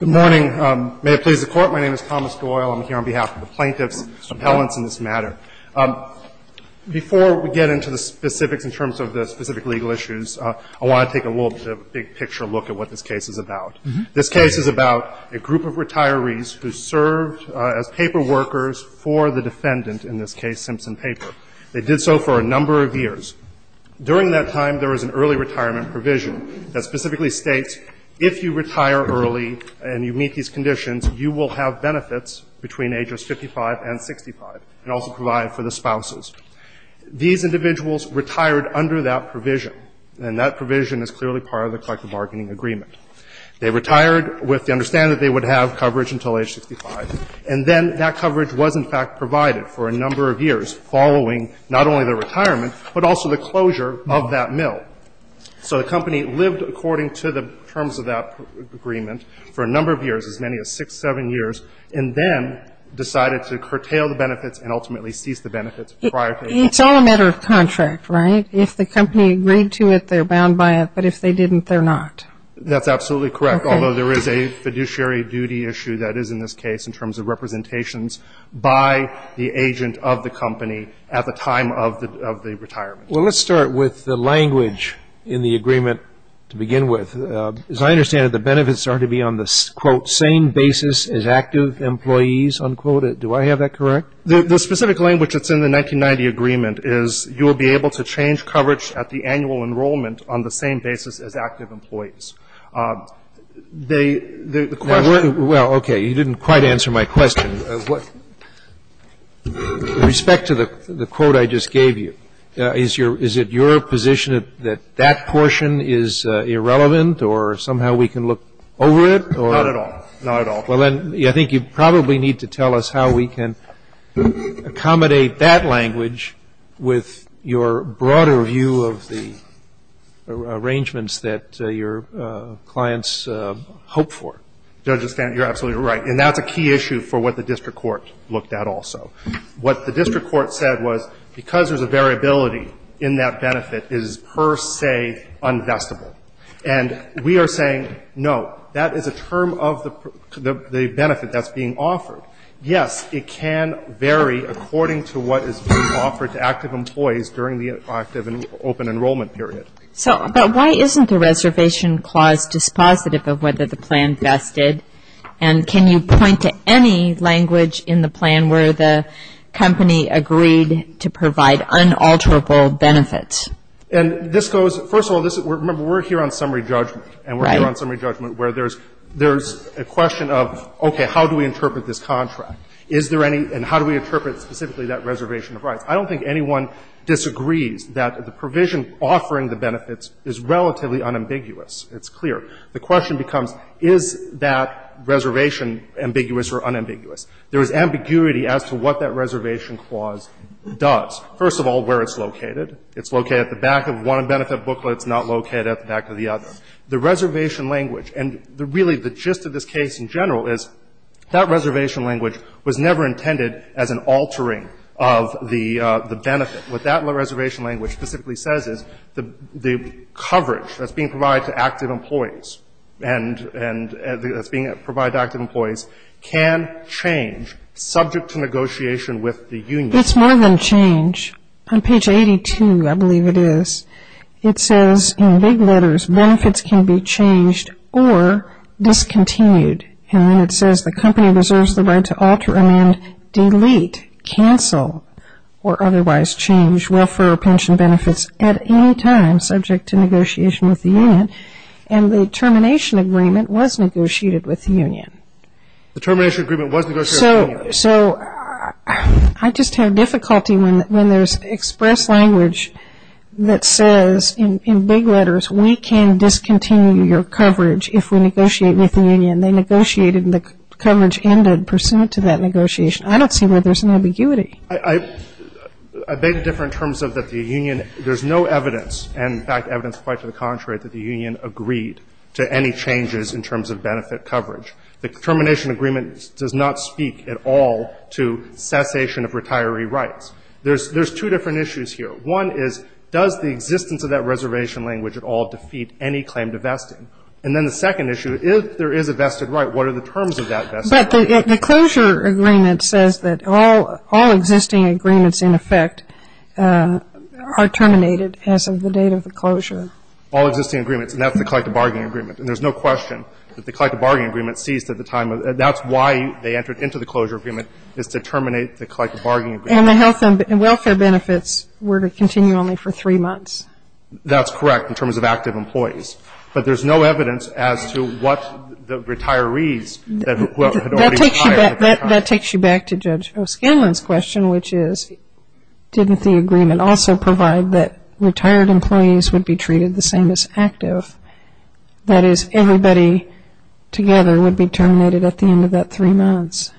Good morning. May it please the Court, my name is Thomas Doyle. I'm here on behalf of the plaintiffs' appellants in this matter. Before we get into the specifics in terms of the specific legal issues, I want to take a little bit of a big-picture look at what this case is about. This case is about a group of retirees who served as paperworkers for the defendant, in this case Simpson Paper. They did so for a number of years. During that time, there was an early retirement provision that specifically states, if you retire early and you meet these conditions, you will have benefits between ages 55 and 65, and also provide for the spouses. These individuals retired under that provision, and that provision is clearly part of the collective bargaining agreement. They retired with the understanding that they would have coverage until age 65, and then that coverage was, in fact, provided for a number of years following not only their retirement, but also the closure of that mill. So the company lived according to the terms of that agreement for a number of years, as many as six, seven years, and then decided to curtail the benefits and ultimately cease the benefits prior to that. It's all a matter of contract, right? If the company agreed to it, they're bound by it. But if they didn't, they're not. That's absolutely correct, although there is a fiduciary duty issue that is in this case in terms of representations by the agent of the company at the time of the retirement. Well, let's start with the language in the agreement to begin with. As I understand it, the benefits are to be on the, quote, same basis as active employees, unquote. Do I have that correct? The specific language that's in the 1990 agreement is you will be able to change coverage at the annual enrollment on the same basis as active employees. They the question Well, okay, you didn't quite answer my question. With respect to the quote I just gave you, is it your position that that portion is irrelevant or somehow we can look over it? Not at all. Not at all. Well, then, I think you probably need to tell us how we can accommodate that language with your broader view of the arrangements that your clients hope for. Judge, you're absolutely right. And that's a key issue for what the district court looked at also. What the district court said was because there's a variability in that benefit is per se unvestable. And we are saying, no, that is a term of the benefit that's being offered. Yes, it can vary according to what is being offered to active employees during the active and open enrollment period. So, but why isn't the reservation clause dispositive of whether the plan vested? And can you point to any language in the plan where the company agreed to provide unalterable benefits? And this goes, first of all, remember, we're here on summary judgment. And we're here on summary judgment where there's a question of, okay, how do we interpret this contract? Is there any, and how do we interpret specifically that reservation of rights? I don't think anyone disagrees that the provision offering the benefits is relatively unambiguous. It's clear. The question becomes, is that reservation ambiguous or unambiguous? There is ambiguity as to what that reservation clause does. First of all, where it's located. It's located at the back of one benefit booklet. It's not located at the back of the other. The reservation language, and really the gist of this case in general is that reservation language was never intended as an altering of the benefit. What that reservation language specifically says is the coverage that's being provided to active employees, and that's being provided to active employees can change subject to negotiation with the union. It's more than change. On page 82, I believe it is, it says in big letters, benefits can be changed or discontinued. And then it says the company reserves the right to alter, amend, delete, cancel, or otherwise change welfare or pension benefits at any time subject to negotiation with the union. And the termination agreement was negotiated with the union. The termination agreement was negotiated with the union. So I just have difficulty when there's express language that says in big letters, we can discontinue your coverage if we negotiate with the union. They negotiated and the coverage ended pursuant to that negotiation. I don't see where there's an ambiguity. I beg to differ in terms of that the union, there's no evidence, and in fact, there's no evidence quite to the contrary that the union agreed to any changes in terms of benefit coverage. The termination agreement does not speak at all to cessation of retiree rights. There's two different issues here. One is, does the existence of that reservation language at all defeat any claim to vesting? And then the second issue, if there is a vested right, what are the terms of that vested right? But the closure agreement says that all existing agreements, in effect, are terminated as of the date of the closure. All existing agreements, and that's the collective bargaining agreement. And there's no question that the collective bargaining agreement ceased at the time of the, that's why they entered into the closure agreement, is to terminate the collective bargaining agreement. And the health and welfare benefits were to continue only for three months. That's correct in terms of active employees. But there's no evidence as to what the retirees that had already retired at that time. That takes you back to Judge O'Skinlan's question, which is, didn't the agreement also provide that retired employees would be treated the same as active? That is, everybody together would be terminated at the end of that three months.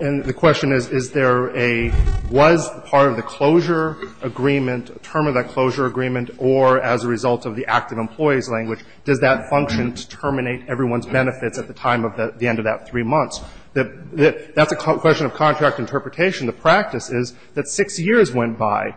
And the question is, is there a, was part of the closure agreement, term of that closure agreement, or as a result of the active employees language, does that function to terminate everyone's benefits at the time of the end of that three months? That's a question of contract interpretation. The practice is that six years went by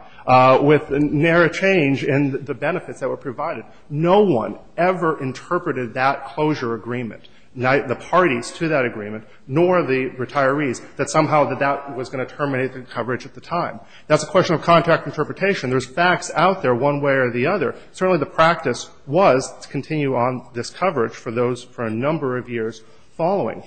with narrow change in the benefits that were provided. No one ever interpreted that closure agreement, the parties to that agreement, nor the retirees, that somehow that was going to terminate the coverage at the time. That's a question of contract interpretation. There's facts out there one way or the other. Certainly the practice was to continue on this coverage for those for a number of years following.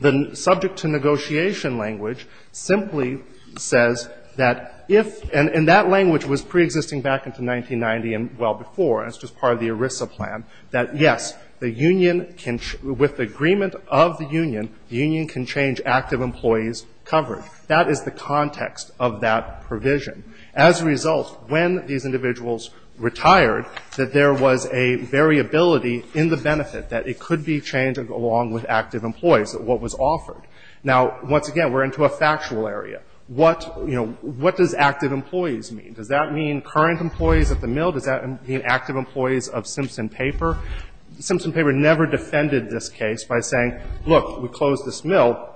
The subject to negotiation language simply says that if, and that language was preexisting back into 1990 and well before, and it's just part of the ERISA plan, that, yes, the union can, with the agreement of the union, the union can change active employees' coverage. That is the context of that provision. As a result, when these individuals retired, that there was a variability in the benefit, that it could be changed along with active employees, what was offered. Now, once again, we're into a factual area. What, you know, what does active employees mean? Does that mean current employees at the mill? Does that mean active employees of Simpson Paper? Simpson Paper never defended this case by saying, look, we closed this mill,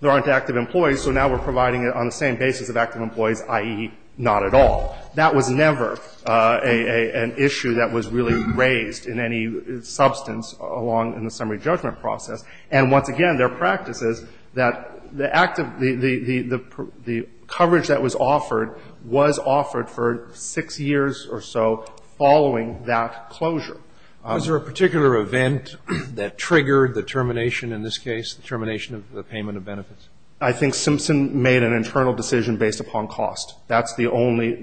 there aren't active employees, so now we're providing it on the same basis of active employees, i.e., not at all. That was never an issue that was really raised in any substance along in the summary judgment process. And once again, their practice is that the active, the coverage that was offered was offered for six years or so following that closure. Was there a particular event that triggered the termination in this case, the termination of the payment of benefits? I think Simpson made an internal decision based upon cost. That's the only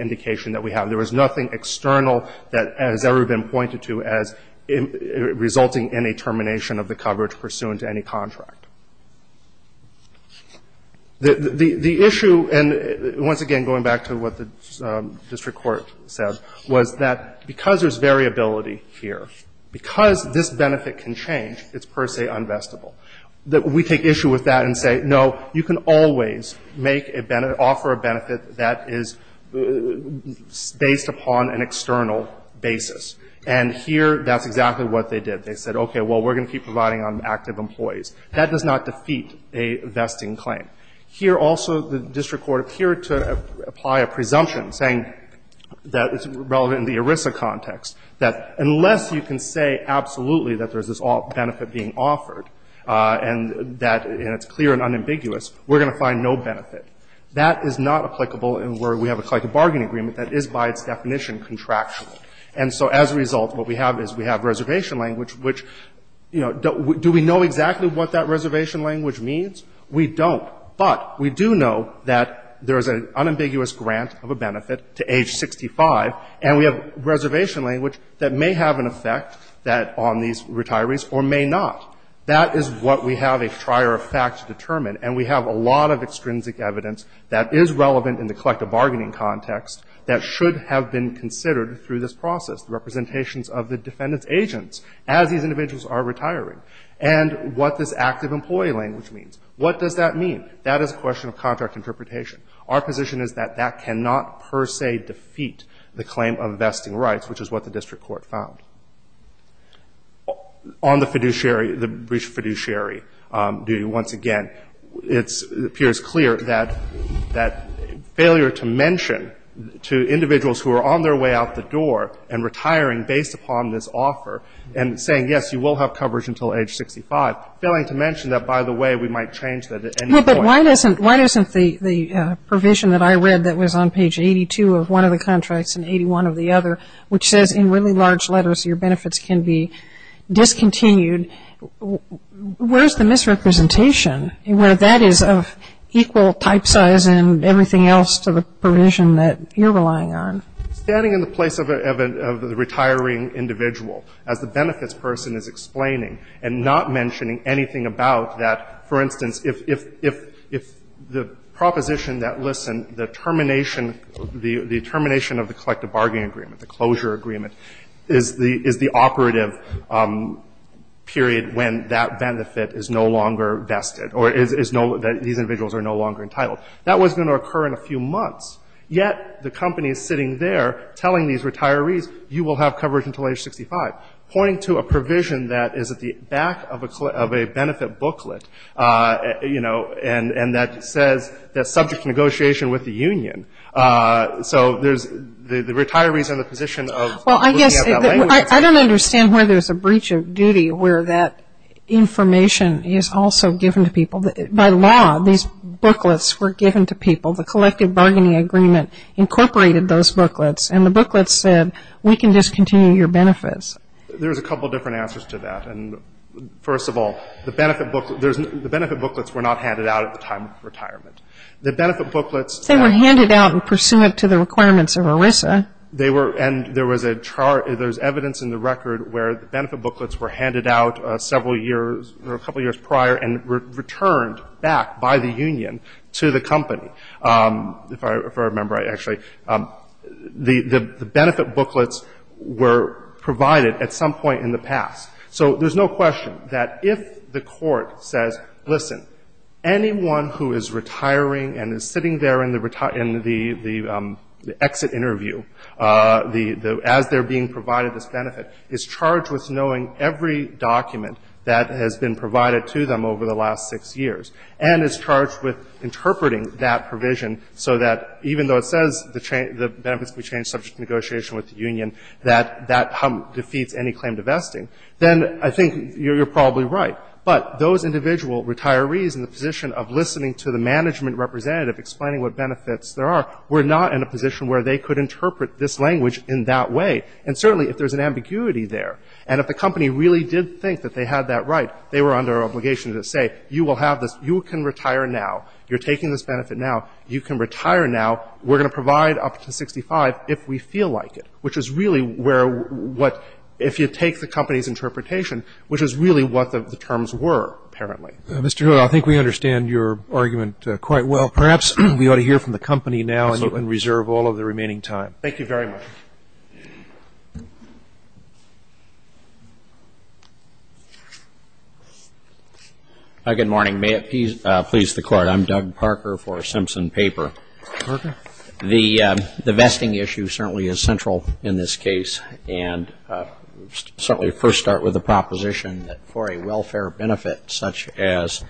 indication that we have. There was nothing external that has ever been pointed to as resulting in a termination of the coverage pursuant to any contract. The issue, and once again, going back to what the district court said, was that because there's variability here, because this benefit can change, it's per se unvestable. We take issue with that and say, no, you can always make a benefit, offer a benefit that is based upon an external basis. And here that's exactly what they did. They said, okay, well, we're going to keep providing on active employees. That does not defeat a vesting claim. Here also the district court appeared to apply a presumption saying that it's relevant in the ERISA context, that unless you can say absolutely that there's this benefit being offered and that it's clear and unambiguous, we're going to find no benefit. That is not applicable in where we have a collective bargaining agreement that is by its definition contractual. And so as a result, what we have is we have reservation language, which, you know, do we know exactly what that reservation language means? We don't. But we do know that there is an unambiguous grant of a benefit to age 65, and we have not. That is what we have a trier of facts to determine, and we have a lot of extrinsic evidence that is relevant in the collective bargaining context that should have been considered through this process, the representations of the defendant's agents as these individuals are retiring, and what this active employee language means. What does that mean? That is a question of contract interpretation. Our position is that that cannot per se defeat the claim of vesting rights, which is what the district court found. On the fiduciary, the brief fiduciary duty, once again, it appears clear that failure to mention to individuals who are on their way out the door and retiring based upon this offer and saying, yes, you will have coverage until age 65, failing to mention that, by the way, we might change that at any point. No, but why doesn't the provision that I read that was on page 82 of one of the contracts and 81 of the other, which says in really large letters your benefits can be discontinued, where is the misrepresentation where that is of equal type size and everything else to the provision that you're relying on? Standing in the place of the retiring individual as the benefits person is explaining and not mentioning anything about that, for instance, if the proposition that, listen, the termination of the collective bargaining agreement, the closure agreement, is the operative period when that benefit is no longer vested or these individuals are no longer entitled. That was going to occur in a few months, yet the company is sitting there telling these retirees, you will have coverage until age 65, pointing to a provision that is at the back of a benefit booklet, you know, and that says that subject negotiation with the union. So the retirees are in the position of looking at that language. Well, I guess I don't understand where there's a breach of duty where that information is also given to people. By law, these booklets were given to people. The collective bargaining agreement incorporated those booklets, and the booklets said we can discontinue your benefits. There's a couple different answers to that, and first of all, the benefit booklets were not handed out at the time of retirement. The benefit booklets at the time of retirement. They were handed out pursuant to the requirements of ERISA. They were, and there was a chart, there's evidence in the record where the benefit booklets were handed out several years or a couple years prior and returned back by the union to the company. If I remember actually, the benefit booklets were provided at some point in the past. So there's no question that if the court says, listen, anyone who is retiring and is sitting there in the exit interview, as they're being provided this benefit, is charged with knowing every document that has been provided to them over the last six years, and is charged with interpreting that provision so that even though it says the benefits can be changed subject to negotiation with the union, that that defeats any claim to vesting, then I think you're probably right. But those individual retirees in the position of listening to the management representative explaining what benefits there are were not in a position where they could interpret this language in that way. And certainly if there's an ambiguity there, and if the company really did think that they had that right, they were under obligation to say, you will have this, you can retire now, you're taking this benefit now, you can retire now, we're going to provide up to 65 if we feel like it. Which is really where what, if you take the company's interpretation, which is really what the terms were, apparently. Mr. Hewitt, I think we understand your argument quite well. Perhaps we ought to hear from the company now and you can reserve all of the remaining time. Thank you very much. Good morning. May it please the Court. I'm Doug Parker for Simpson Paper. Parker. The vesting issue certainly is central in this case. And certainly first start with the proposition that for a welfare benefit, such as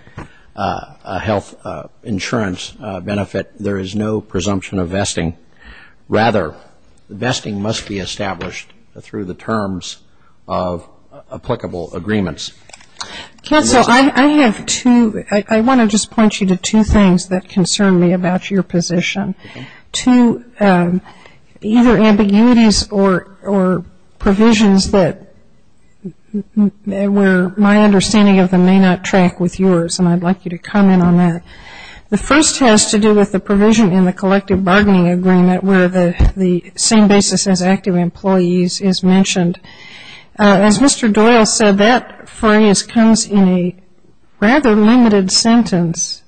a health insurance benefit, there is no presumption of vesting. Rather, vesting must be established through the terms of applicable agreements. Counsel, I have two, I want to just point you to two things that concern me about your position. Two, either ambiguities or provisions that where my understanding of them may not track with yours. And I'd like you to comment on that. The first has to do with the provision in the collective bargaining agreement where the same basis as active employees is mentioned. As Mr. Doyle said, that phrase comes in a rather limited sentence,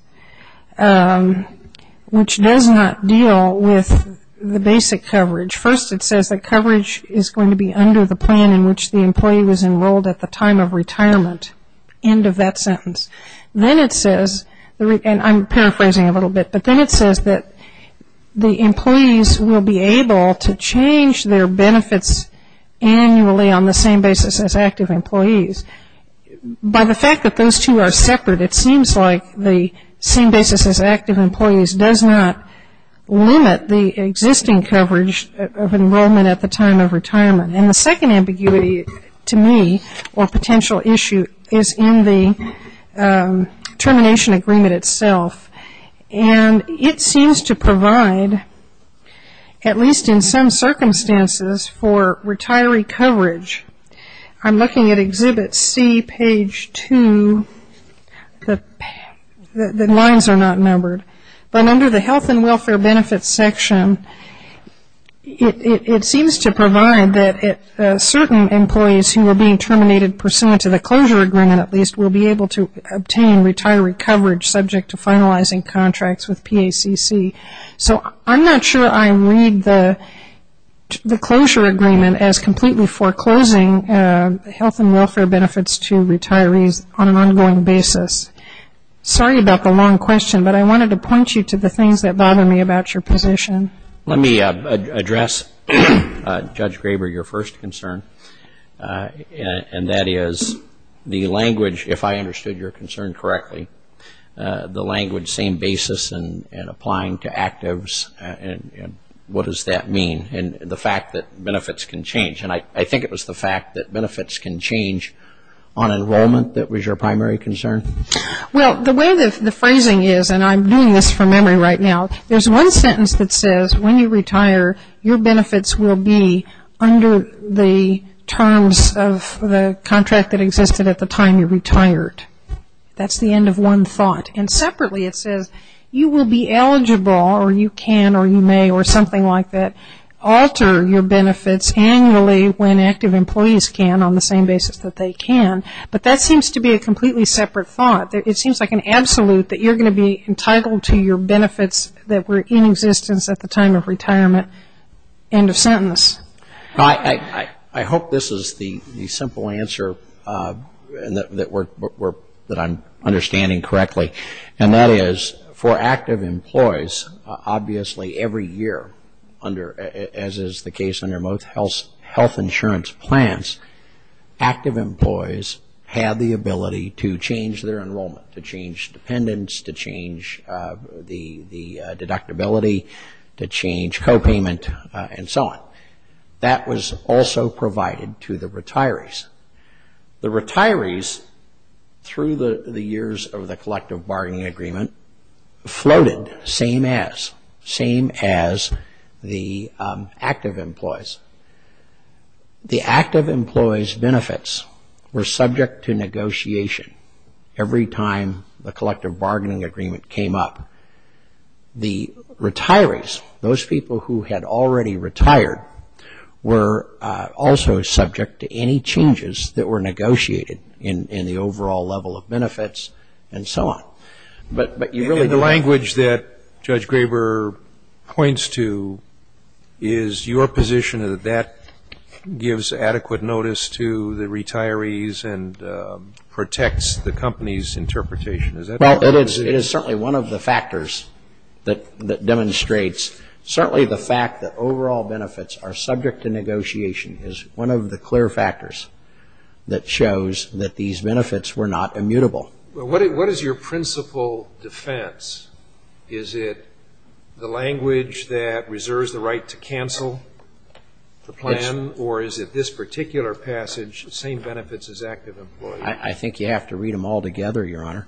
which does not deal with the basic coverage. First it says that coverage is going to be under the plan in which the employee was enrolled at the time of retirement, end of that sentence. Then it says, and I'm paraphrasing a little bit, but then it says that the employees will be able to change their benefits annually on the same basis as active employees. By the fact that those two are separate, it seems like the same basis as active employees does not limit the existing coverage of enrollment at the time of retirement. And the second ambiguity to me or potential issue is in the termination agreement itself. And it seems to provide, at least in some circumstances, for retiree coverage. I'm looking at Exhibit C, Page 2. The lines are not numbered. But under the health and welfare benefits section, it seems to provide that certain employees who are being terminated pursuant to the closure agreement at least will be able to obtain retiree coverage subject to finalizing contracts with PACC. So I'm not sure I read the closure agreement as completely foreclosing health and welfare benefits to retirees on an ongoing basis. Sorry about the long question, but I wanted to point you to the things that bother me about your position. Let me address, Judge Graber, your first concern, and that is the language, if I understood your concern correctly, the language same basis and applying to actives. What does that mean? And the fact that benefits can change. And I think it was the fact that benefits can change on enrollment that was your primary concern? Well, the way the phrasing is, and I'm doing this from memory right now, there's one sentence that says when you retire, your benefits will be under the terms of the contract that existed at the time you retired. That's the end of one thought. And separately it says you will be eligible, or you can, or you may, or something like that, alter your benefits annually when active employees can on the same basis that they can. But that seems to be a completely separate thought. It seems like an absolute that you're going to be entitled to your benefits that were in existence at the time of retirement. End of sentence. I hope this is the simple answer that I'm understanding correctly, and that is for active employees, obviously every year, as is the case under most health insurance plans, active employees have the ability to change their enrollment, to change dependents, to change the deductibility, to change copayment, and so on. That was also provided to the retirees. The retirees, through the years of the collective bargaining agreement, floated same as, same as the active employees. The active employees' benefits were subject to negotiation every time the collective bargaining agreement came up. The retirees, those people who had already retired, were also subject to any changes that were negotiated in the overall level of benefits, and so on. But you really- And the language that Judge Graber points to is your position that that gives adequate notice to the retirees and protects the company's interpretation. Is that- Well, it is certainly one of the factors that demonstrates, certainly the fact that overall benefits are subject to negotiation is one of the clear factors that shows that these benefits were not immutable. What is your principal defense? Is it the language that reserves the right to cancel the plan, or is it this particular passage, same benefits as active employees? I think you have to read them all together, Your Honor.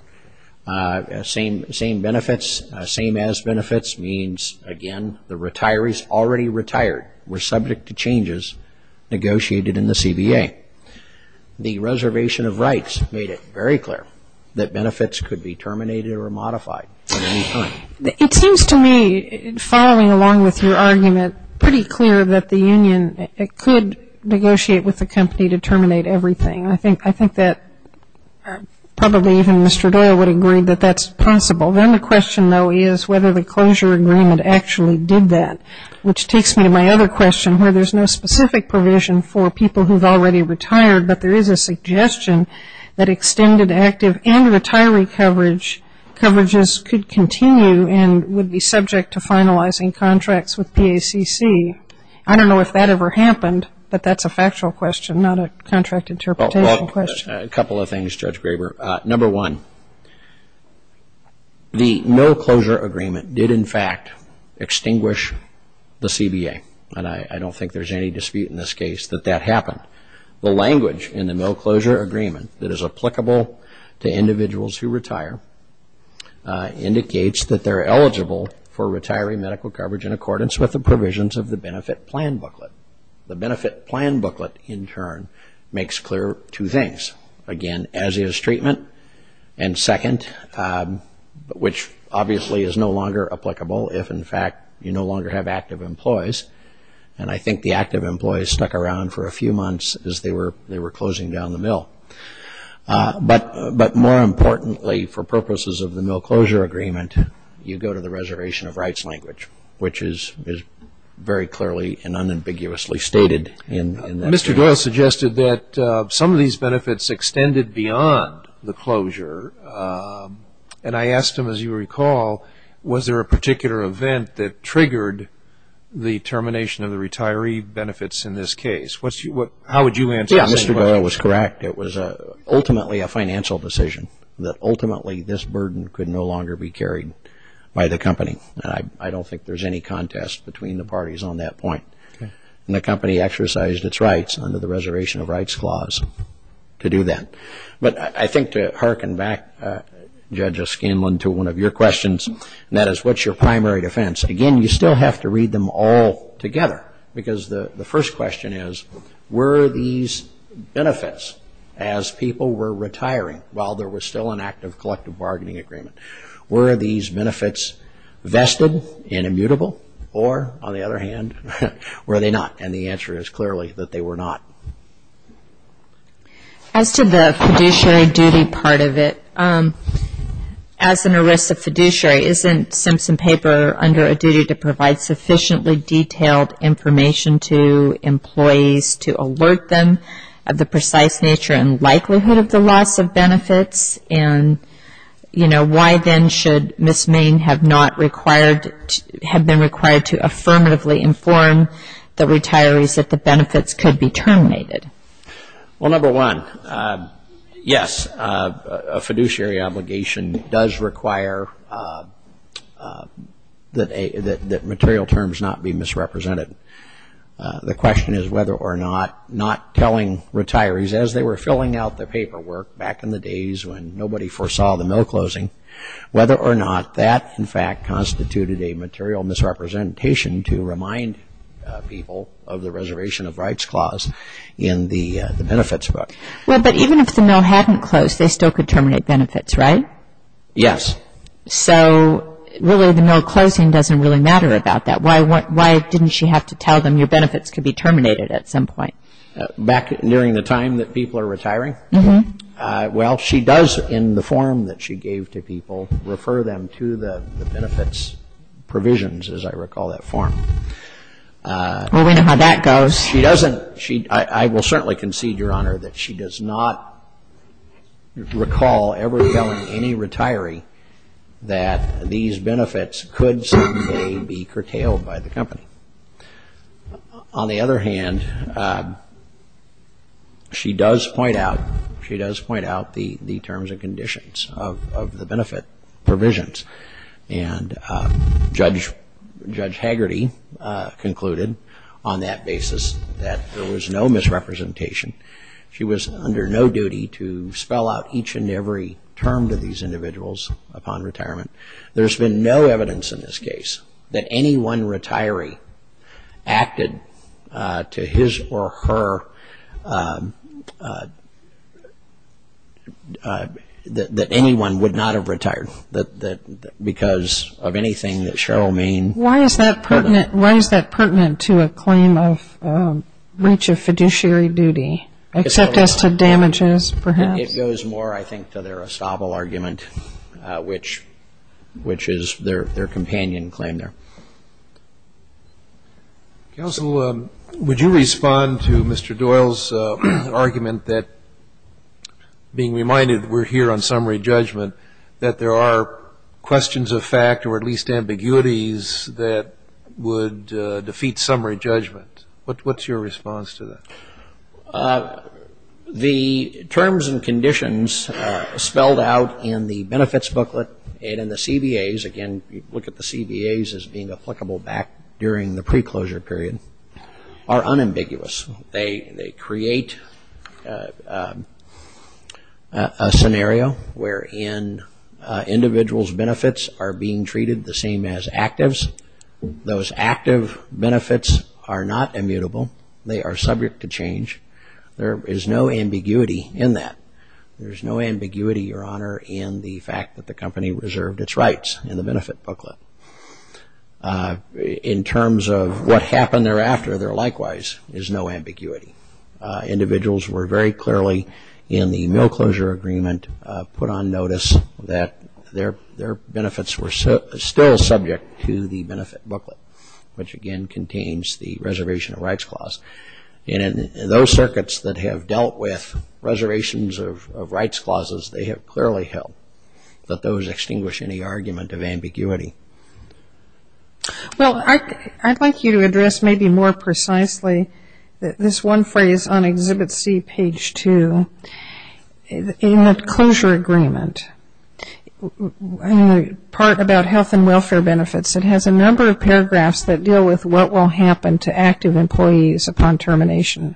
Same benefits, same as benefits means, again, the retirees already retired were subject to changes negotiated in the CBA. The reservation of rights made it very clear that benefits could be terminated or modified at any time. It seems to me, following along with your argument, pretty clear that the union could negotiate with the company to terminate everything. I think that probably even Mr. Doyle would agree that that's possible. Then the question, though, is whether the closure agreement actually did that, which takes me to my other question where there's no specific provision for people who've already retired, but there is a suggestion that extended active and retiree coverages could continue and would be subject to finalizing contracts with PACC. I don't know if that ever happened, but that's a factual question, not a contract interpretation question. A couple of things, Judge Graber. Number one, the no-closure agreement did, in fact, extinguish the CBA. I don't think there's any dispute in this case that that happened. The language in the no-closure agreement that is applicable to individuals who retire indicates that they're eligible for retiree medical coverage in accordance with the provisions of the benefit plan booklet. The benefit plan booklet, in turn, makes clear two things. Again, as is treatment, and second, which obviously is no longer applicable if, in fact, you no longer have active employees, and I think the active employees stuck around for a few months as they were closing down the mill. But more importantly, for purposes of the no-closure agreement, you go to the reservation of rights language, which is very clearly and unambiguously stated in that agreement. Mr. Doyle suggested that some of these benefits extended beyond the closure, and I asked him, as you recall, was there a particular event that triggered the termination of the retiree benefits in this case? How would you answer that? Yeah, Mr. Doyle was correct. It was ultimately a financial decision that ultimately this burden could no longer be carried by the company, and I don't think there's any contest between the parties on that point. And the company exercised its rights under the reservation of rights clause to do that. But I think to hearken back, Judge O'Scanlan, to one of your questions, and that is, what's your primary defense? Again, you still have to read them all together, because the first question is, were these benefits, as people were retiring while there was still an active collective bargaining agreement, were these benefits vested and immutable? Or, on the other hand, were they not? And the answer is clearly that they were not. As to the fiduciary duty part of it, as an ERISA fiduciary, isn't Simpson Paper under a duty to provide sufficiently detailed information to employees to alert them of the precise nature and likelihood of the loss of benefits? And why then should Ms. Main have been required to affirmatively inform the retirees that the benefits could be terminated? Well, number one, yes, a fiduciary obligation does require that material terms not be misrepresented. The question is whether or not not telling retirees, as they were filling out their paperwork back in the days when nobody foresaw the mill closing, whether or not that, in fact, constituted a material misrepresentation to remind people of the Reservation of Rights Clause in the benefits book. But even if the mill hadn't closed, they still could terminate benefits, right? Yes. So really, the mill closing doesn't really matter about that. Why didn't she have to tell them your benefits could be terminated at some point? Back during the time that people are retiring? Mm-hmm. Well, she does, in the form that she gave to people, refer them to the benefits provisions, as I recall that form. She doesn't. I will certainly concede, Your Honor, that she does not recall ever telling any retiree that these benefits could someday be curtailed by the company. On the other hand, she does point out, she does point out the terms and conditions of the benefit provisions. And Judge Hagerty concluded on that basis that there was no misrepresentation. She was under no duty to spell out each and every term to these individuals upon retirement. There's been no evidence in this case that any one retiree acted to his or her... that anyone would not have retired because of anything that Cheryl Main... Why is that pertinent to a claim of breach of fiduciary duty, except as to damages, perhaps? It goes more, I think, to their estoppel argument, which is their companion claim there. Counsel, would you respond to Mr. Doyle's argument that, being reminded we're here on summary judgment, that there are questions of fact or at least ambiguities that would defeat summary judgment? What's your response to that? The terms and conditions spelled out in the benefits booklet and in the CBAs, again, look at the CBAs as being applicable back during the pre-closure period, are unambiguous. They create a scenario wherein individuals' benefits are being treated the same as actives. Those active benefits are not immutable. They are subject to change. There is no ambiguity in that. There's no ambiguity, Your Honor, in the fact that the company reserved its rights in the benefit booklet. In terms of what happened thereafter, there likewise is no ambiguity. Individuals were very clearly in the no-closure agreement put on notice that their benefits were still subject to the benefit booklet, which, again, contains the reservation of rights clause. And in those circuits that have dealt with reservations of rights clauses, they have clearly held that those extinguish any argument of ambiguity. Well, I'd like you to address maybe more precisely this one phrase on Exhibit C, page 2. In the closure agreement, in the part about health and welfare benefits, it has a number of paragraphs that deal with what will happen to active employees upon termination.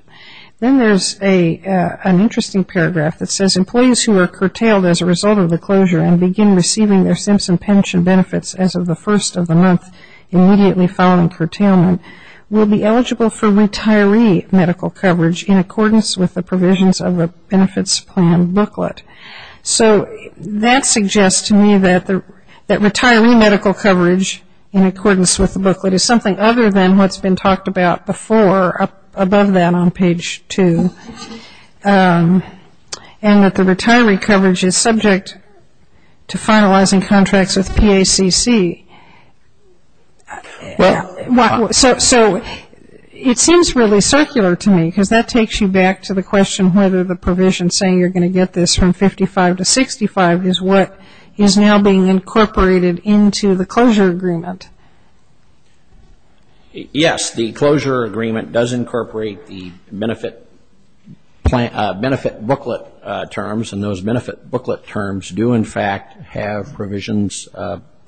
Then there's an interesting paragraph that says employees who are curtailed as a result of the closure and begin receiving their Simpson Pension benefits as of the first of the month immediately following curtailment will be eligible for retiree medical coverage in accordance with the provisions of a benefits plan booklet. So that suggests to me that retiree medical coverage in accordance with the booklet is something other than what's been talked about before, above that on page 2, and that the retiree coverage is subject to finalizing contracts with PACC. Well, so it seems really circular to me because that takes you back to the question whether the provision saying you're going to get this from 55 to 65 is what is now being incorporated into the closure agreement. Yes, the closure agreement does incorporate the benefit booklet terms and those benefit booklet terms do in fact have provisions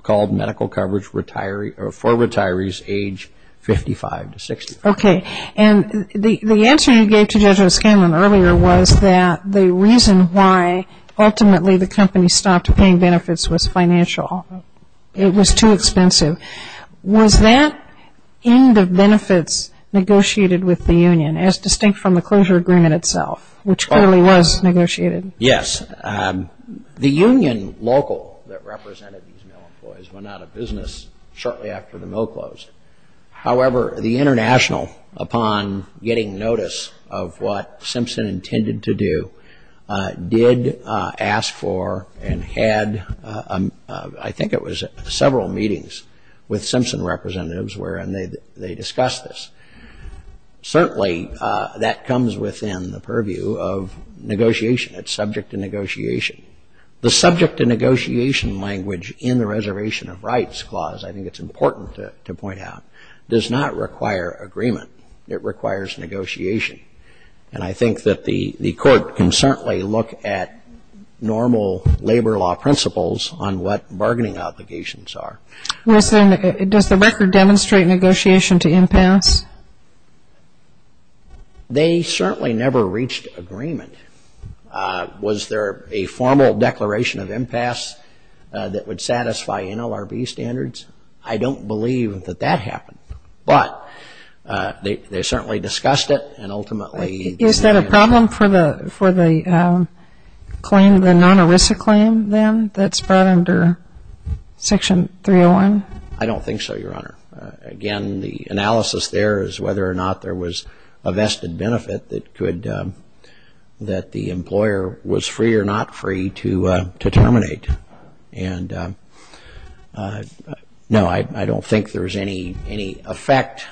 called medical coverage for retirees age 55 to 65. Okay, and the answer you gave to Judge O'Scanlan earlier was that the reason why ultimately the company stopped paying benefits was financial. It was too expensive. Was that end of benefits negotiated with the union as distinct from the closure agreement itself, which clearly was negotiated? Yes. The union local that represented these male employees went out of business shortly after the mill closed. However, the international, upon getting notice of what Simpson intended to do, did ask for and had I think it was several meetings with Simpson representatives where they discussed this. Certainly, that comes within the purview of negotiation. It's subject to negotiation. The subject to negotiation language in the Reservation of Rights Clause I think it's important to point out does not require agreement. It requires negotiation and I think that the court can certainly look at normal labor law principles on what bargaining obligations are. Does the record demonstrate negotiation to impasse? They certainly never reached agreement Was there a formal declaration of impasse that would satisfy NLRB standards? I don't believe that that happened, but they certainly discussed it and ultimately... Is that a problem for the non-ERISA claim then that's brought under Section 301? I don't think so, Your Honor. Again, the analysis there is whether or not there was a vested benefit that the employer was free or not free to terminate. No, I don't think there's any effect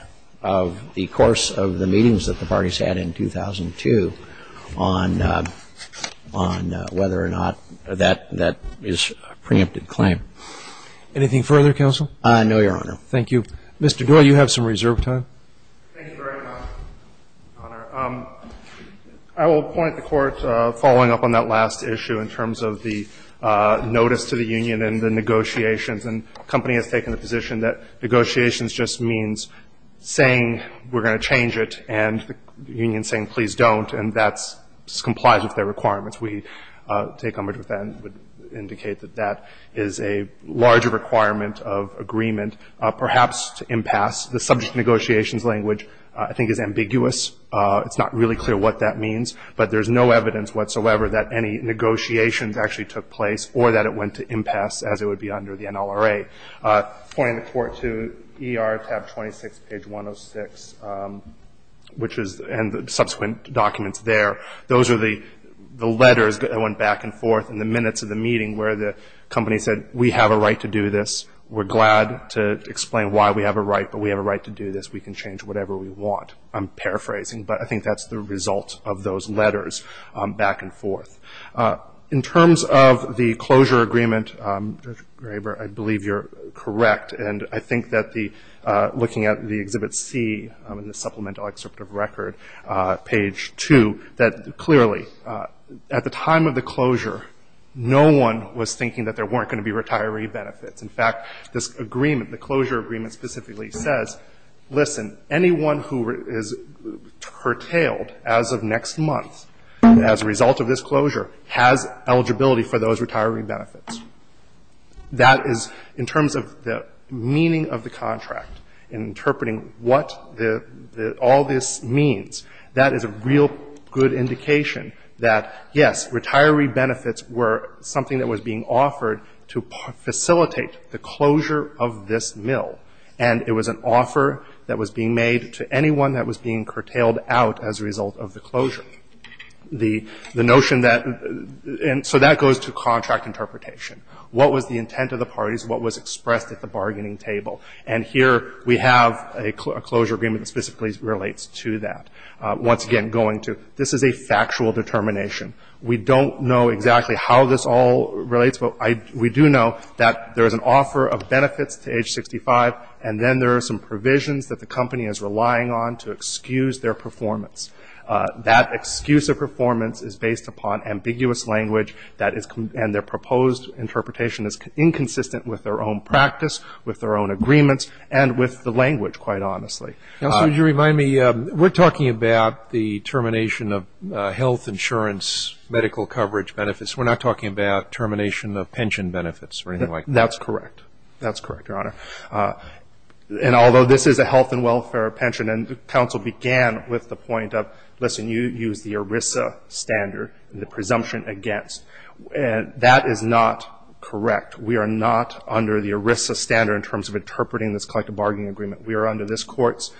of the course of the meetings that the parties had in 2002 whether or not that is a preempted claim. Anything further, Counsel? No, Your Honor. Thank you. Mr. Doyle, you have some reserve time. Thank you very much, Your Honor. I will point the Court following up on that last issue in terms of the notice to the union and the negotiations and the company has taken the position that negotiations just means saying we're going to change it and the union saying please don't and that complies with their requirements. We take homage with that and would indicate that that is a larger requirement of agreement, perhaps to impasse. The subject negotiations language I think is ambiguous. It's not really clear what that means but there's no evidence whatsoever that any negotiations actually took place or that it went to impasse as it would be under the NLRA. Pointing the Court to ER tab 26 page 106 which is and the subsequent documents there, those are the letters that went back and forth in the minutes of the meeting where the company said we have a right to do this. We're glad to explain why we have a right but we have a right to do this. We can change whatever we want. I'm paraphrasing but I think that's the result of those letters back and forth. In terms of the closure agreement, I believe you're correct and I think that looking at the Exhibit C in the supplemental excerpt of record page 2 that clearly at the time of the closure no one was thinking that there this agreement, the closure agreement specifically says listen anyone who is curtailed as of next month as a result of this closure has eligibility for those retiree benefits. That is in terms of the meaning of the contract interpreting what all this means, that is a real good indication that yes, retiree benefits were something that was being offered to facilitate the closure of this mill and it was an offer that was being made to anyone that was being curtailed out as a result of the closure. The notion that and so that goes to contract interpretation. What was the intent of the parties? What was expressed at the bargaining table? And here we have a closure agreement that specifically relates to that. Once again going to this is a factual determination. We don't know exactly how this all relates but we do know that there is an offer of benefits to age 65 and then there are some provisions that the company is relying on to excuse their performance. That excuse of performance is based upon ambiguous language and their proposed interpretation is inconsistent with their own practice, with their own agreements and with the language quite honestly. We're talking about the termination of health insurance medical coverage benefits. We're not talking about termination of pension benefits or anything like that. That's correct. That's correct, your honor. And although this is a health and welfare pension and counsel began with the point of listen you used the ERISA standard, the presumption against and that is not correct. We are not under the ERISA standard in terms of interpreting this collective bargaining agreement. We are under this court's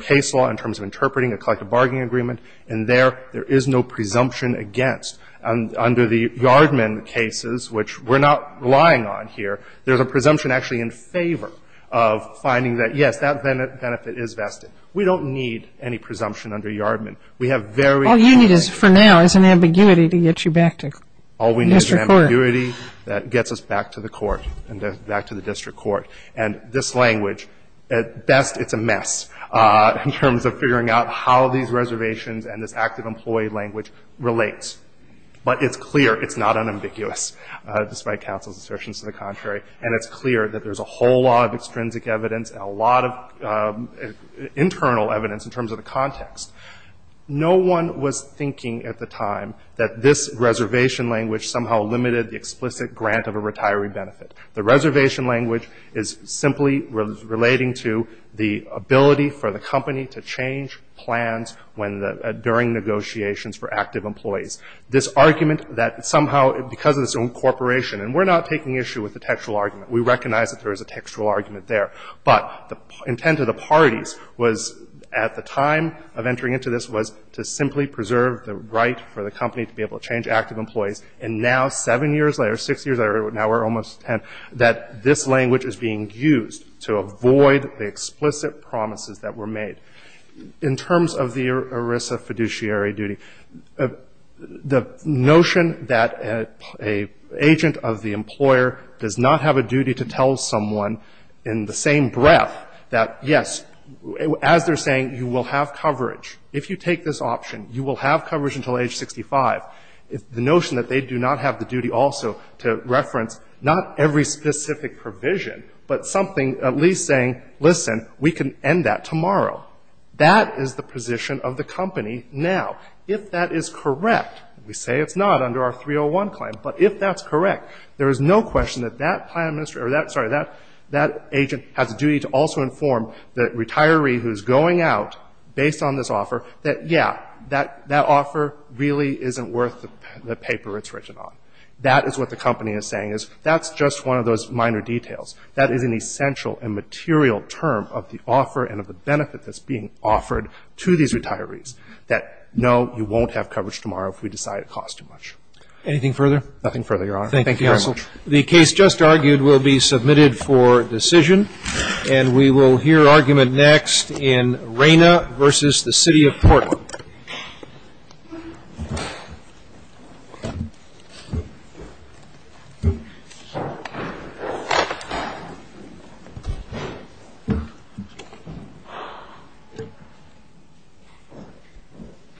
case law in terms of interpreting a collective bargaining agreement and there is no presumption against. Under the Yardman cases, which we're not relying on here, there's a presumption actually in favor of finding that yes, that benefit is vested. We don't need any presumption under Yardman. We have very All you need for now is an ambiguity to get you back to the district court. All we need is an ambiguity that gets us back to the court and back to the district court and this language, at best it's a mess in terms of figuring out how these reservations and this active employee language relates. But it's clear it's not unambiguous despite counsel's assertions to the contrary and it's clear that there's a whole lot of extrinsic evidence and a lot of internal evidence in terms of the context. No one was thinking at the time that this reservation language somehow limited the explicit grant of a retiree benefit. The reservation language is simply relating to the change plans during negotiations for active employees. This argument that somehow because of this incorporation and we're not taking issue with the textual argument. We recognize that there is a textual argument there. But the intent of the parties was at the time of entering into this was to simply preserve the right for the company to be able to change active employees and now seven years later six years later, now we're almost ten that this language is being used to avoid the explicit promises that were made. In terms of the ERISA fiduciary duty, the notion that an agent of the employer does not have a duty to tell someone in the same breath that yes, as they're saying, you will have coverage. If you take this option, you will have coverage until age 65. The notion that they do not have the duty also to reference not every specific provision, but something at least saying, listen, we can end that tomorrow. That is the position of the company now. If that is correct, we say it's not under our 301 claim, but if that's correct, there is no question that that agent has a duty to also inform the retiree who's going out based on this offer that yeah, that offer really isn't worth the paper it's written on. That is what the company is saying. That's just one of those minor details. That is an essential and material term of the offer and of the benefit that's being offered to these retirees that no, you won't have coverage tomorrow if we decide it costs too much. Anything further? Nothing further, Your Honor. Thank you, counsel. The case just argued will be submitted for decision, and we will hear argument next in Reyna v. The City of Portland.............